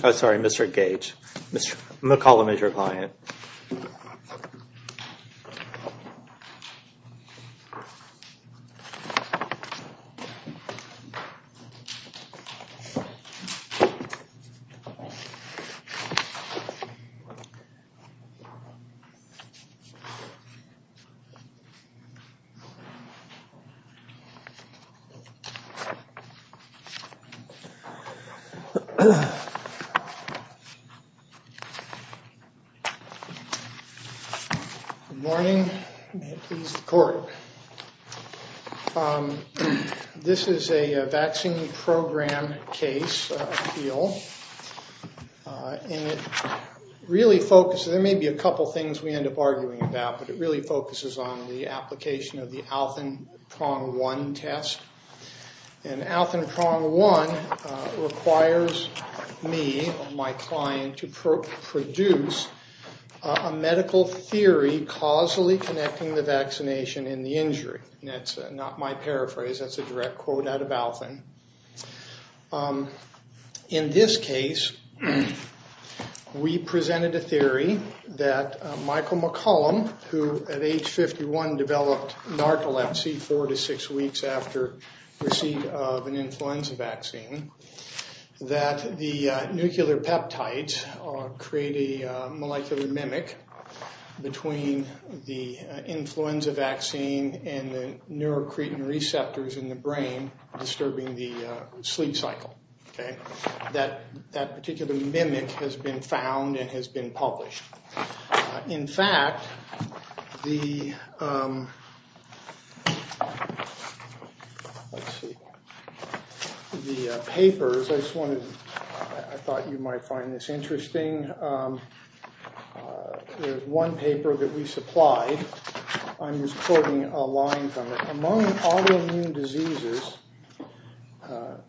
Sorry, mr. Gage, mr. McCollum is your client Good morning, may it please the court. This is a vaccine program case appeal. And it really focuses, there may be a couple things we end up arguing about, but it really focuses on the application of the Alton prong one test and Alton prong one requires me, my client, to produce a medical theory causally connecting the vaccination and the injury. That's not my paraphrase, that's a direct quote out of Alton. In this case, we presented a theory that Michael McCollum, who at age 51 developed narcolepsy four to six weeks after receipt of an influenza vaccine, that the nuclear peptides create a molecular mimic between the influenza vaccine and the neurocretin receptors in the brain, disturbing the sleep cycle. Okay, that that particular mimic has been found and has been published. In fact, the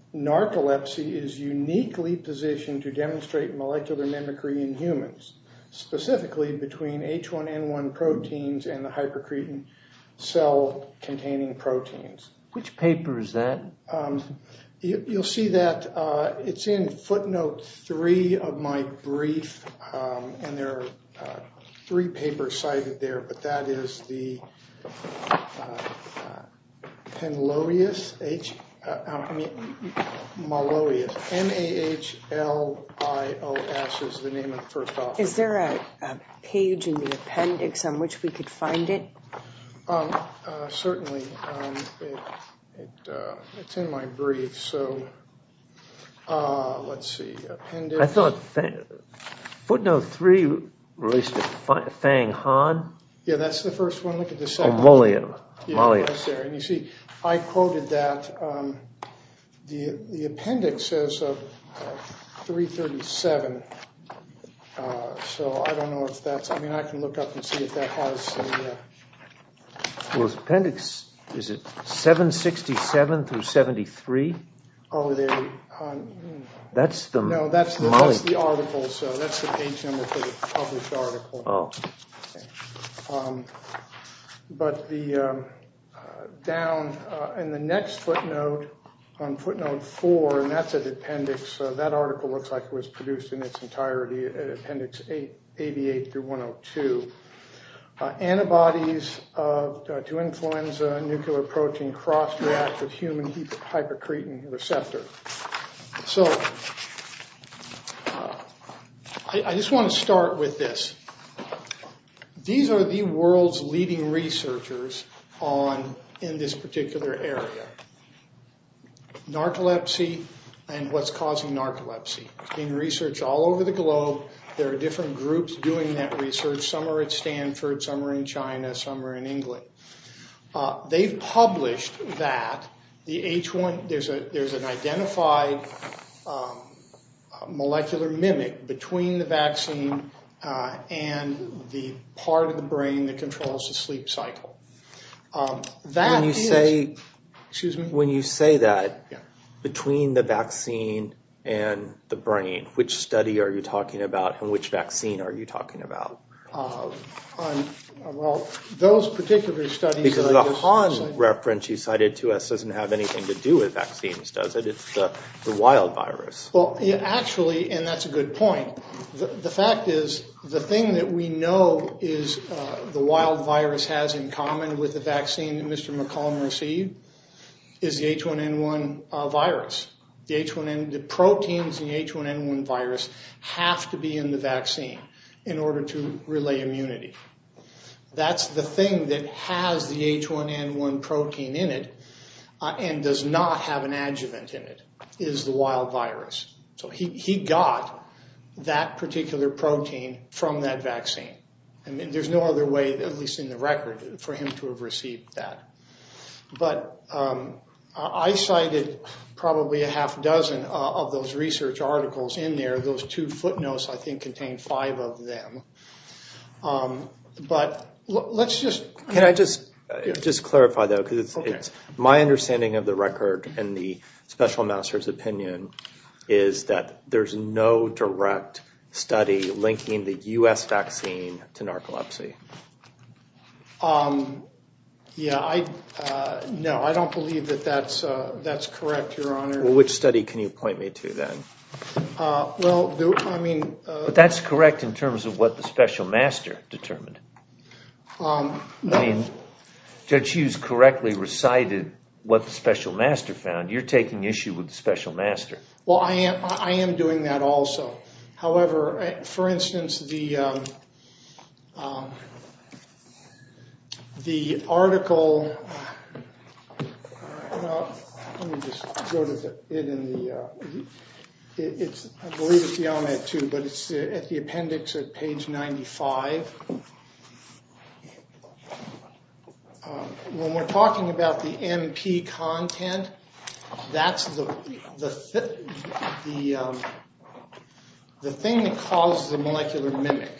narcolepsy is uniquely positioned to demonstrate molecular mimicry in humans, specifically between H1N1 proteins and the hypercretin cell containing proteins, which papers that you'll see that it's in footnote three of my brief. And there are three papers cited there, but that is the Penloius, M-A-H-L-I-O-S is the name of the first. Is there a page in the appendix on which we could find it? Certainly, it's in my brief. So, let's see. I thought footnote three released a Fang Han? Yeah, that's the first one. Look at the second one. Mollier. You see, I quoted that. The appendix says 337. So I don't know if that's I mean I can look up and see if that was appendix. Is it 767 through 73. That's the article so that's the page number for the published article. But the down in the next footnote on footnote four and that's an appendix, that article looks like it was produced in its entirety appendix 88 through 102. Antibodies to influenza, nuclear protein, cross-reactive human hypocretin receptor. So, I just want to start with this. These are the world's leading researchers in this particular area. Narcolepsy and what's causing narcolepsy. There's been research all over the globe. There are different groups doing that research. Some are at Stanford, some are in China, some are in England. They've published that the H1 there's a there's an identified molecular mimic between the vaccine and the part of the brain that controls the sleep cycle. When you say that between the vaccine and the brain, which study are you talking about and which vaccine are you talking about? Well, those particular studies. Because the Han reference you cited to us doesn't have anything to do with vaccines, does it? It's the wild virus. Well, actually, and that's a good point. The fact is, the thing that we know is the wild virus has in common with the vaccine that Mr. McCollum received is the H1N1 virus. The proteins in the H1N1 virus have to be in the vaccine in order to relay immunity. That's the thing that has the H1N1 protein in it and does not have an adjuvant in it is the wild virus. So he got that particular protein from that vaccine. I mean, there's no other way, at least in the record, for him to have received that. But I cited probably a half dozen of those research articles in there. Those two footnotes, I think, contain five of them. But let's just can I just just clarify, though, because it's my understanding of the record. And the special master's opinion is that there's no direct study linking the U.S. vaccine to narcolepsy. Yeah, I know. I don't believe that that's that's correct. Your honor, which study can you point me to then? Well, I mean, that's correct in terms of what the special master determined. I mean, Judge Hughes correctly recited what the special master found. You're taking issue with the special master. Well, I am. I am doing that also. However, for instance, the. The article in the. It's I believe it's the only two, but it's at the appendix at page ninety five. When we're talking about the NP content, that's the the the the thing that causes the molecular mimic.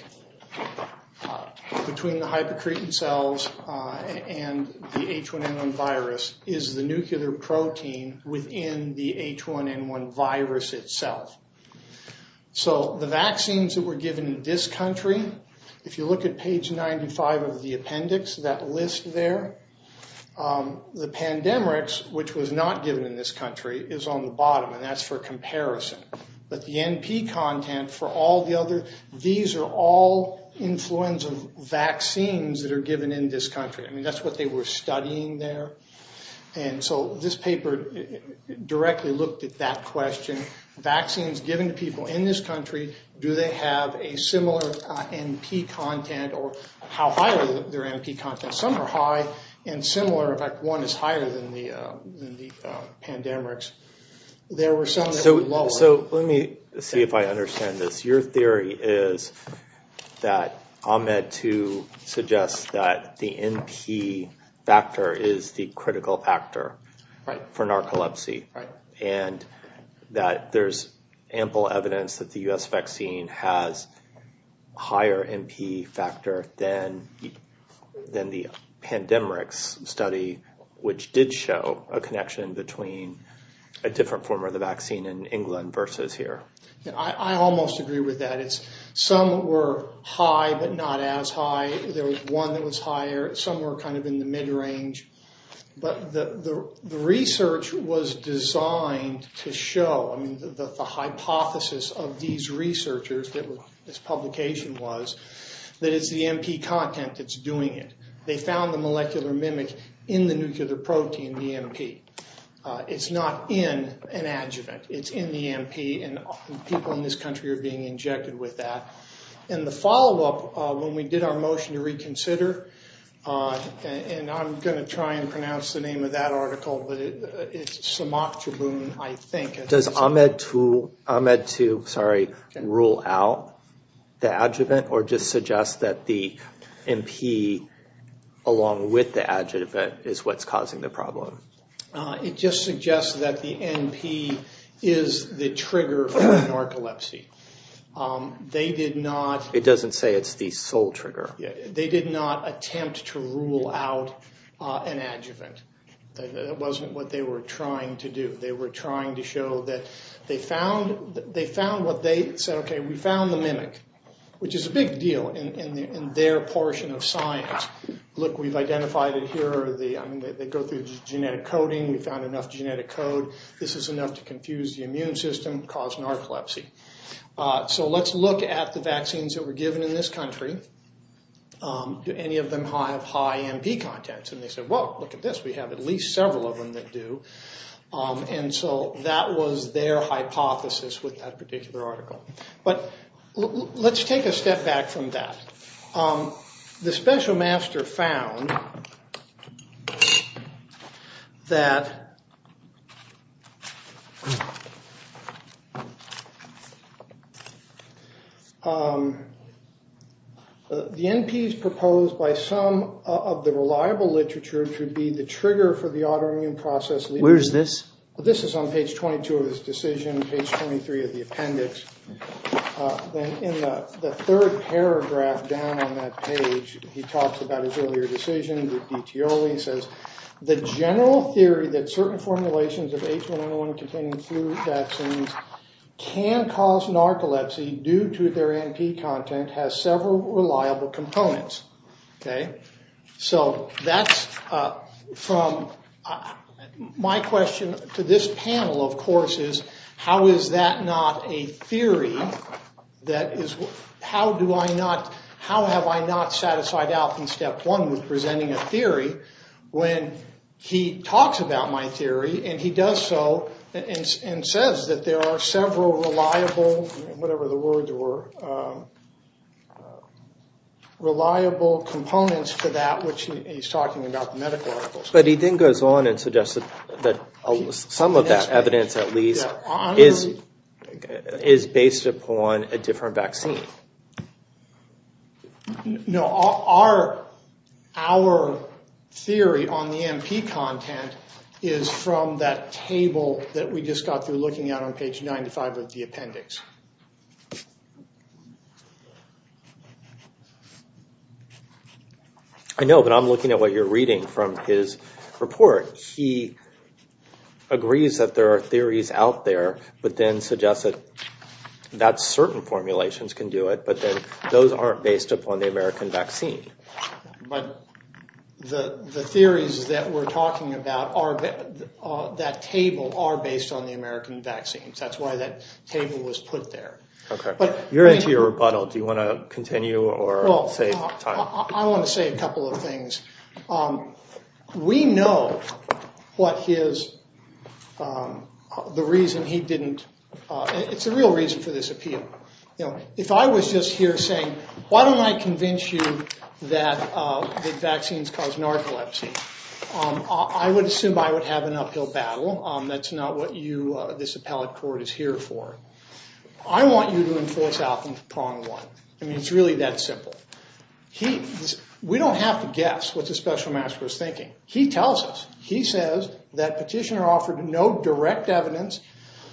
Between the hyper creatine cells and the H1N1 virus is the nuclear protein within the H1N1 virus itself. So the vaccines that were given in this country, if you look at page ninety five of the appendix, that list there, the pandemics, which was not given in this country, is on the bottom. And that's for comparison. But the NP content for all the other. These are all influenza vaccines that are given in this country. I mean, that's what they were studying there. And so this paper directly looked at that question. Vaccines given to people in this country. Do they have a similar NP content or how high are their NP content? Some are high and similar. In fact, one is higher than the than the pandemics. There were some. So. So let me see if I understand this. Your theory is that Ahmed to suggest that the NP factor is the critical factor for narcolepsy. And that there's ample evidence that the US vaccine has higher NP factor than than the pandemics study, which did show a connection between a different form of the vaccine in England versus here. I almost agree with that. It's some were high, but not as high. There was one that was higher. Some were kind of in the mid range. But the research was designed to show the hypothesis of these researchers that this publication was that it's the NP content that's doing it. They found the molecular mimic in the nuclear protein, the NP. It's not in an adjuvant. It's in the NP. And people in this country are being injected with that. And the follow up when we did our motion to reconsider, and I'm going to try and pronounce the name of that article, but it's Samak Tribune, I think it does Ahmed to Ahmed to sorry, rule out the adjuvant or just suggest that the NP, along with the adjuvant is what's causing the problem. It just suggests that the NP is the trigger for narcolepsy. They did not- It doesn't say it's the sole trigger. They did not attempt to rule out an adjuvant. That wasn't what they were trying to do. They were trying to show that they found what they said, okay, we found the mimic, which is a big deal in their portion of science. Look, we've identified it here. They go through genetic coding. We found enough genetic code. This is enough to confuse the immune system, cause narcolepsy. So let's look at the vaccines that were given in this country. Do any of them have high NP contents? And they said, well, look at this. We have at least several of them that do. And so that was their hypothesis with that particular article. But let's take a step back from that. The special master found that the NP is proposed by some of the reliable literature to be the trigger for the autoimmune process. Where is this? This is on page 22 of his decision, page 23 of the appendix. In the third paragraph down on that page, he talks about his earlier decision. He says, the general theory that certain formulations of H1N1 containing flu vaccines can cause narcolepsy due to their NP content has several reliable components. So that's from my question to this panel, of course, is how is that not a theory? That is, how do I not, how have I not satisfied out in step one with presenting a theory when he talks about my theory? And he does so and says that there are several reliable, whatever the words were, reliable components to that, which he's talking about the medical articles. But he then goes on and suggests that some of that evidence, at least, is based upon a different vaccine. No, our theory on the NP content is from that table that we just got through looking at on page 95 of the appendix. I know, but I'm looking at what you're reading from his report. He agrees that there are theories out there, but then suggests that certain formulations can do it, but then those aren't based upon the American vaccine. But the theories that we're talking about, that table, are based on the American vaccines. That's why that table was put there. Okay, you're into your rebuttal. Do you want to continue or save time? I want to say a couple of things. We know what his, the reason he didn't, it's a real reason for this appeal. If I was just here saying, why don't I convince you that the vaccines cause narcolepsy? I would assume I would have an uphill battle. That's not what you, this appellate court, is here for. I want you to enforce out in prong one. I mean, it's really that simple. We don't have to guess what the special master was thinking. He tells us. He says that petitioner offered no direct evidence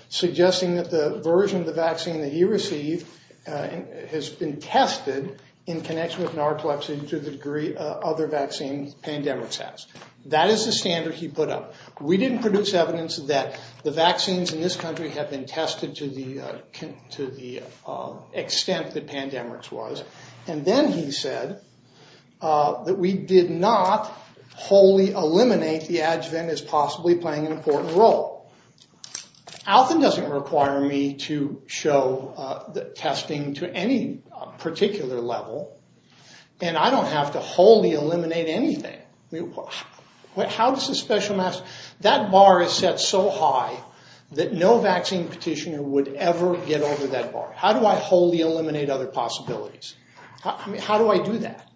suggesting that the version of the vaccine that he received has been tested in connection with narcolepsy to the degree other vaccine pandemics has. That is the standard he put up. We didn't produce evidence that the vaccines in this country have been tested to the extent that pandemics was. And then he said that we did not wholly eliminate the adjuvant as possibly playing an important role. Alton doesn't require me to show the testing to any particular level. And I don't have to wholly eliminate anything. How does a special master, that bar is set so high that no vaccine petitioner would ever get over that bar. How do I wholly eliminate other possibilities? How do I do that?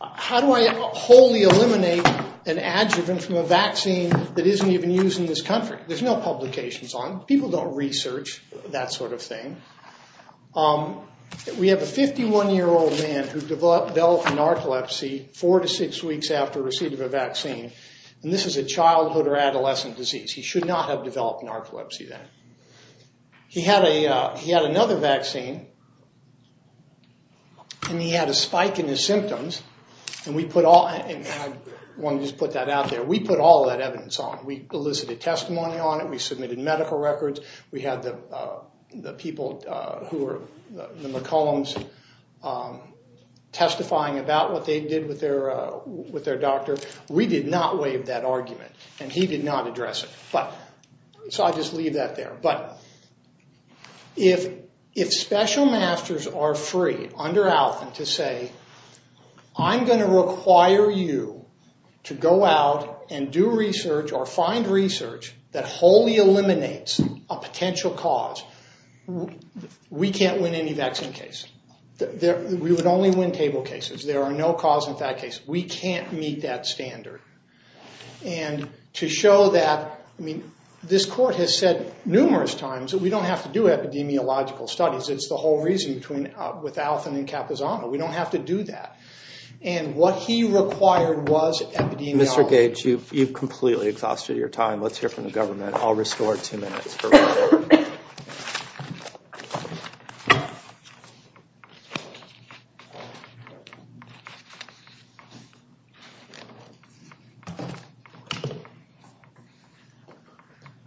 How do I wholly eliminate an adjuvant from a vaccine that isn't even used in this country? There's no publications on it. People don't research that sort of thing. We have a 51-year-old man who developed narcolepsy four to six weeks after receipt of a vaccine. And this is a childhood or adolescent disease. He should not have developed narcolepsy then. He had another vaccine, and he had a spike in his symptoms. And I want to just put that out there. We put all that evidence on. We elicited testimony on it. We submitted medical records. We had the people who were the McCollums testifying about what they did with their doctor. We did not waive that argument, and he did not address it. So I'll just leave that there. But if special masters are free under Alfin to say, I'm going to require you to go out and do research or find research that wholly eliminates a potential cause, we can't win any vaccine case. We would only win table cases. There are no cause and effect cases. We can't meet that standard. And to show that, I mean, this court has said numerous times that we don't have to do epidemiological studies. It's the whole reason with Alfin and Capizano. We don't have to do that. And what he required was epidemiology. Mr. Gates, you've completely exhausted your time. Let's hear from the government. I'll restore two minutes.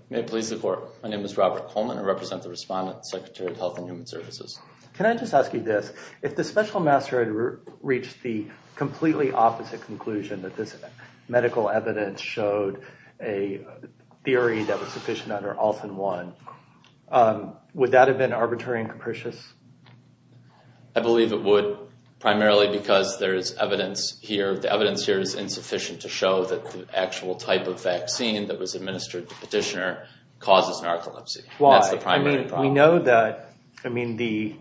May it please the court. My name is Robert Coleman. I represent the respondent, Secretary of Health and Human Services. Can I just ask you this? If the special master had reached the completely opposite conclusion, that this medical evidence showed a theory that was sufficient under Alfin 1, would that have been arbitrary and capricious? I believe it would, primarily because there is evidence here. The evidence here is insufficient to show that the actual type of vaccine that was administered to Petitioner causes narcolepsy. That's the primary problem. We know that, I mean, the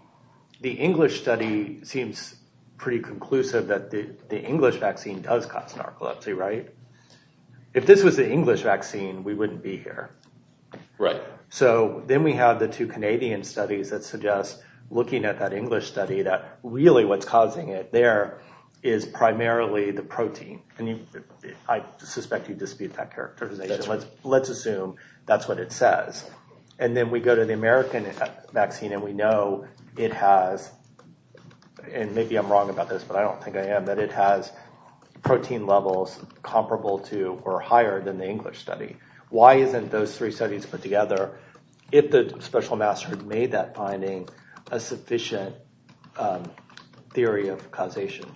English study seems pretty conclusive that the English vaccine does cause narcolepsy, right? If this was the English vaccine, we wouldn't be here. Right. So then we have the two Canadian studies that suggest, looking at that English study, that really what's causing it there is primarily the protein. And I suspect you dispute that characterization. Let's assume that's what it says. And then we go to the American vaccine, and we know it has, and maybe I'm wrong about this, but I don't think I am, that it has protein levels comparable to or higher than the English study. Why isn't those three studies put together if the special master had made that finding a sufficient theory of causation?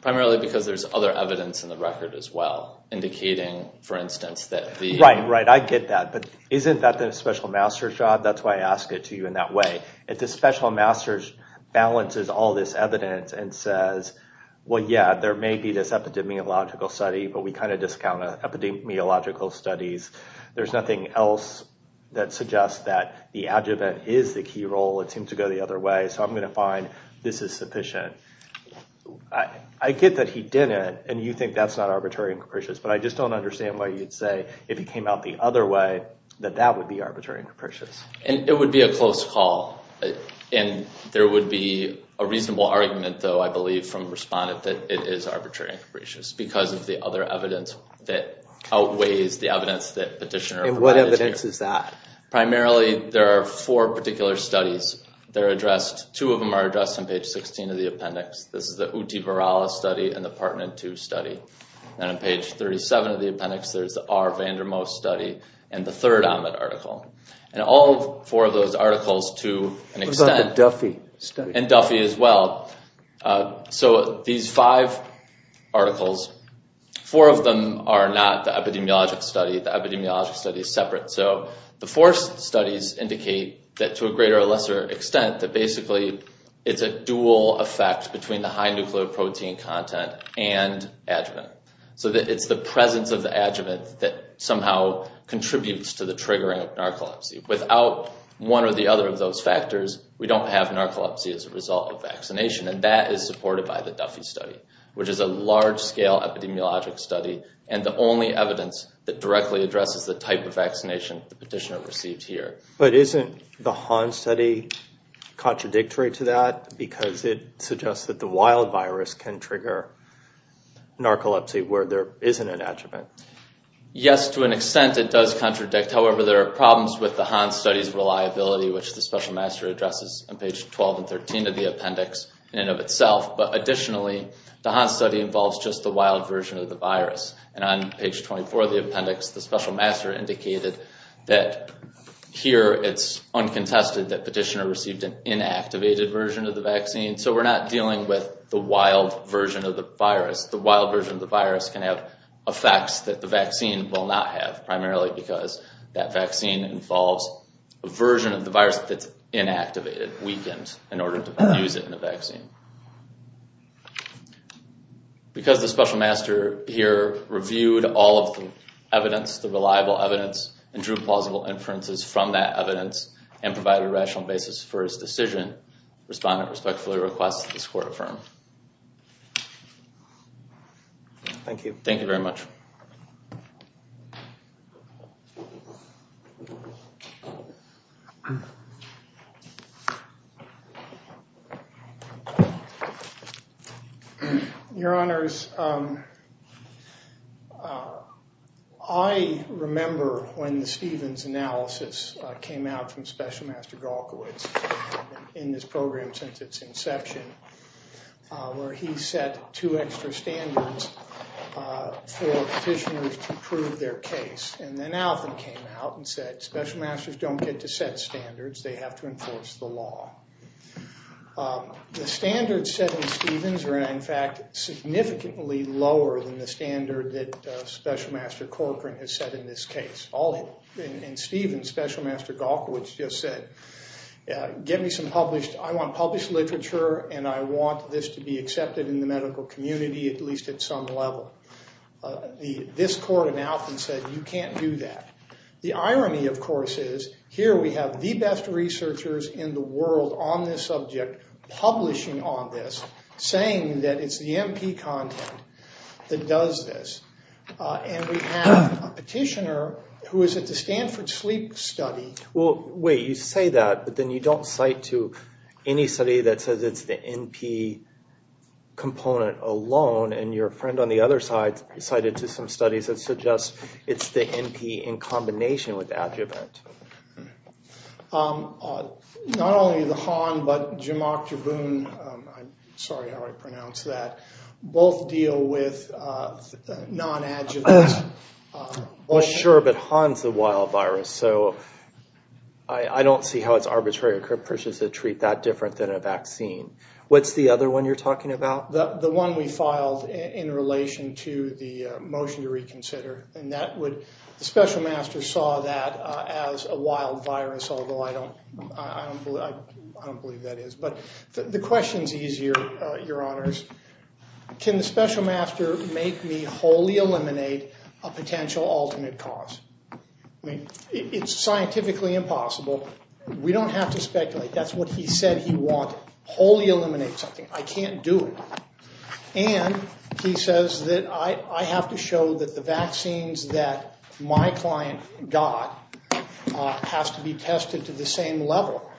Primarily because there's other evidence in the record as well, indicating, for instance, that the— Right, right, I get that. But isn't that the special master's job? That's why I ask it to you in that way. If the special master balances all this evidence and says, well, yeah, there may be this epidemiological study, but we kind of discount epidemiological studies. There's nothing else that suggests that the adjuvant is the key role. It's him to go the other way, so I'm going to find this is sufficient. I get that he didn't, and you think that's not arbitrary and capricious, but I just don't understand why you'd say if he came out the other way that that would be arbitrary and capricious. And it would be a close call. And there would be a reasonable argument, though, I believe, from a respondent that it is arbitrary and capricious because of the other evidence that outweighs the evidence that petitioner provided to you. And what evidence is that? Primarily, there are four particular studies that are addressed. Two of them are addressed on page 16 of the appendix. This is the Utiparala study and the Partnin II study. And on page 37 of the appendix, there's the R. Vandermost study and the third Ahmed article. And all four of those articles, to an extent— What about the Duffy study? And Duffy as well. So these five articles, four of them are not the epidemiologic study. The epidemiologic study is separate. So the four studies indicate that, to a greater or lesser extent, that basically it's a dual effect between the high nucleoprotein content and adjuvant. So it's the presence of the adjuvant that somehow contributes to the triggering of narcolepsy. Without one or the other of those factors, we don't have narcolepsy as a result of vaccination. And that is supported by the Duffy study, which is a large-scale epidemiologic study and the only evidence that directly addresses the type of vaccination the petitioner received here. But isn't the Hahn study contradictory to that because it suggests that the wild virus can trigger narcolepsy where there isn't an adjuvant? Yes, to an extent it does contradict. However, there are problems with the Hahn study's reliability, which the special master addresses on page 12 and 13 of the appendix in and of itself. But additionally, the Hahn study involves just the wild version of the virus. And on page 24 of the appendix, the special master indicated that here it's uncontested that petitioner received an inactivated version of the vaccine. So we're not dealing with the wild version of the virus. The wild version of the virus can have effects that the vaccine will not have, primarily because that vaccine involves a version of the virus that's inactivated, weakened, in order to use it in a vaccine. Because the special master here reviewed all of the evidence, the reliable evidence, and drew plausible inferences from that evidence and provided a rational basis for his decision, respondent respectfully requests that this court affirm. Thank you. Thank you very much. Your Honors, I remember when the Stevens analysis came out from Special Master Galkowitz in this program since its inception. Where he set two extra standards for petitioners to prove their case. And then Alvin came out and said, Special Masters don't get to set standards, they have to enforce the law. The standards set in Stevens are in fact significantly lower than the standard that Special Master Corcoran has set in this case. All in Stevens, Special Master Galkowitz just said, Get me some published, I want published literature and I want this to be accepted in the medical community at least at some level. This court announced and said, you can't do that. The irony of course is, here we have the best researchers in the world on this subject publishing on this, saying that it's the MP content that does this. And we have a petitioner who is at the Stanford Sleep Study. Well, wait, you say that, but then you don't cite to any study that says it's the MP component alone. And your friend on the other side cited to some studies that suggest it's the MP in combination with adjuvant. Not only the Han, but Jamach Jabun, I'm sorry how I pronounce that, both deal with non-adjuvant. Well, sure, but Han's the wild virus. So I don't see how it's arbitrary or preposterous to treat that different than a vaccine. What's the other one you're talking about? The one we filed in relation to the motion to reconsider. And that would, Special Master saw that as a wild virus, although I don't believe that is. But the question's easier, Your Honors. Can the Special Master make me wholly eliminate a potential alternate cause? I mean, it's scientifically impossible. We don't have to speculate. That's what he said he wanted, wholly eliminate something. I can't do it. And he says that I have to show that the vaccines that my client got has to be tested to the same level.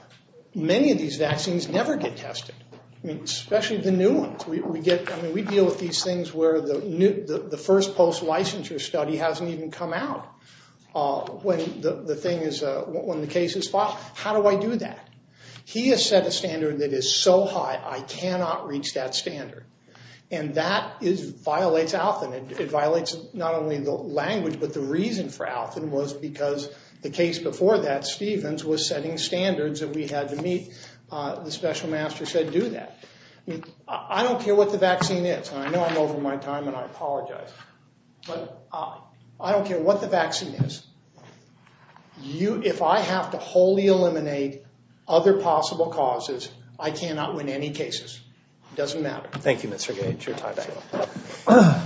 Many of these vaccines never get tested, especially the new ones. We deal with these things where the first post-licensure study hasn't even come out when the case is filed. How do I do that? He has set a standard that is so high, I cannot reach that standard. And that violates Althan. It violates not only the language, but the reason for Althan was because the case before that, which was setting standards that we had to meet, the Special Master said do that. I mean, I don't care what the vaccine is. I know I'm over my time, and I apologize. But I don't care what the vaccine is. If I have to wholly eliminate other possible causes, I cannot win any cases. It doesn't matter. Thank you, Mr. Gage. Your time is up.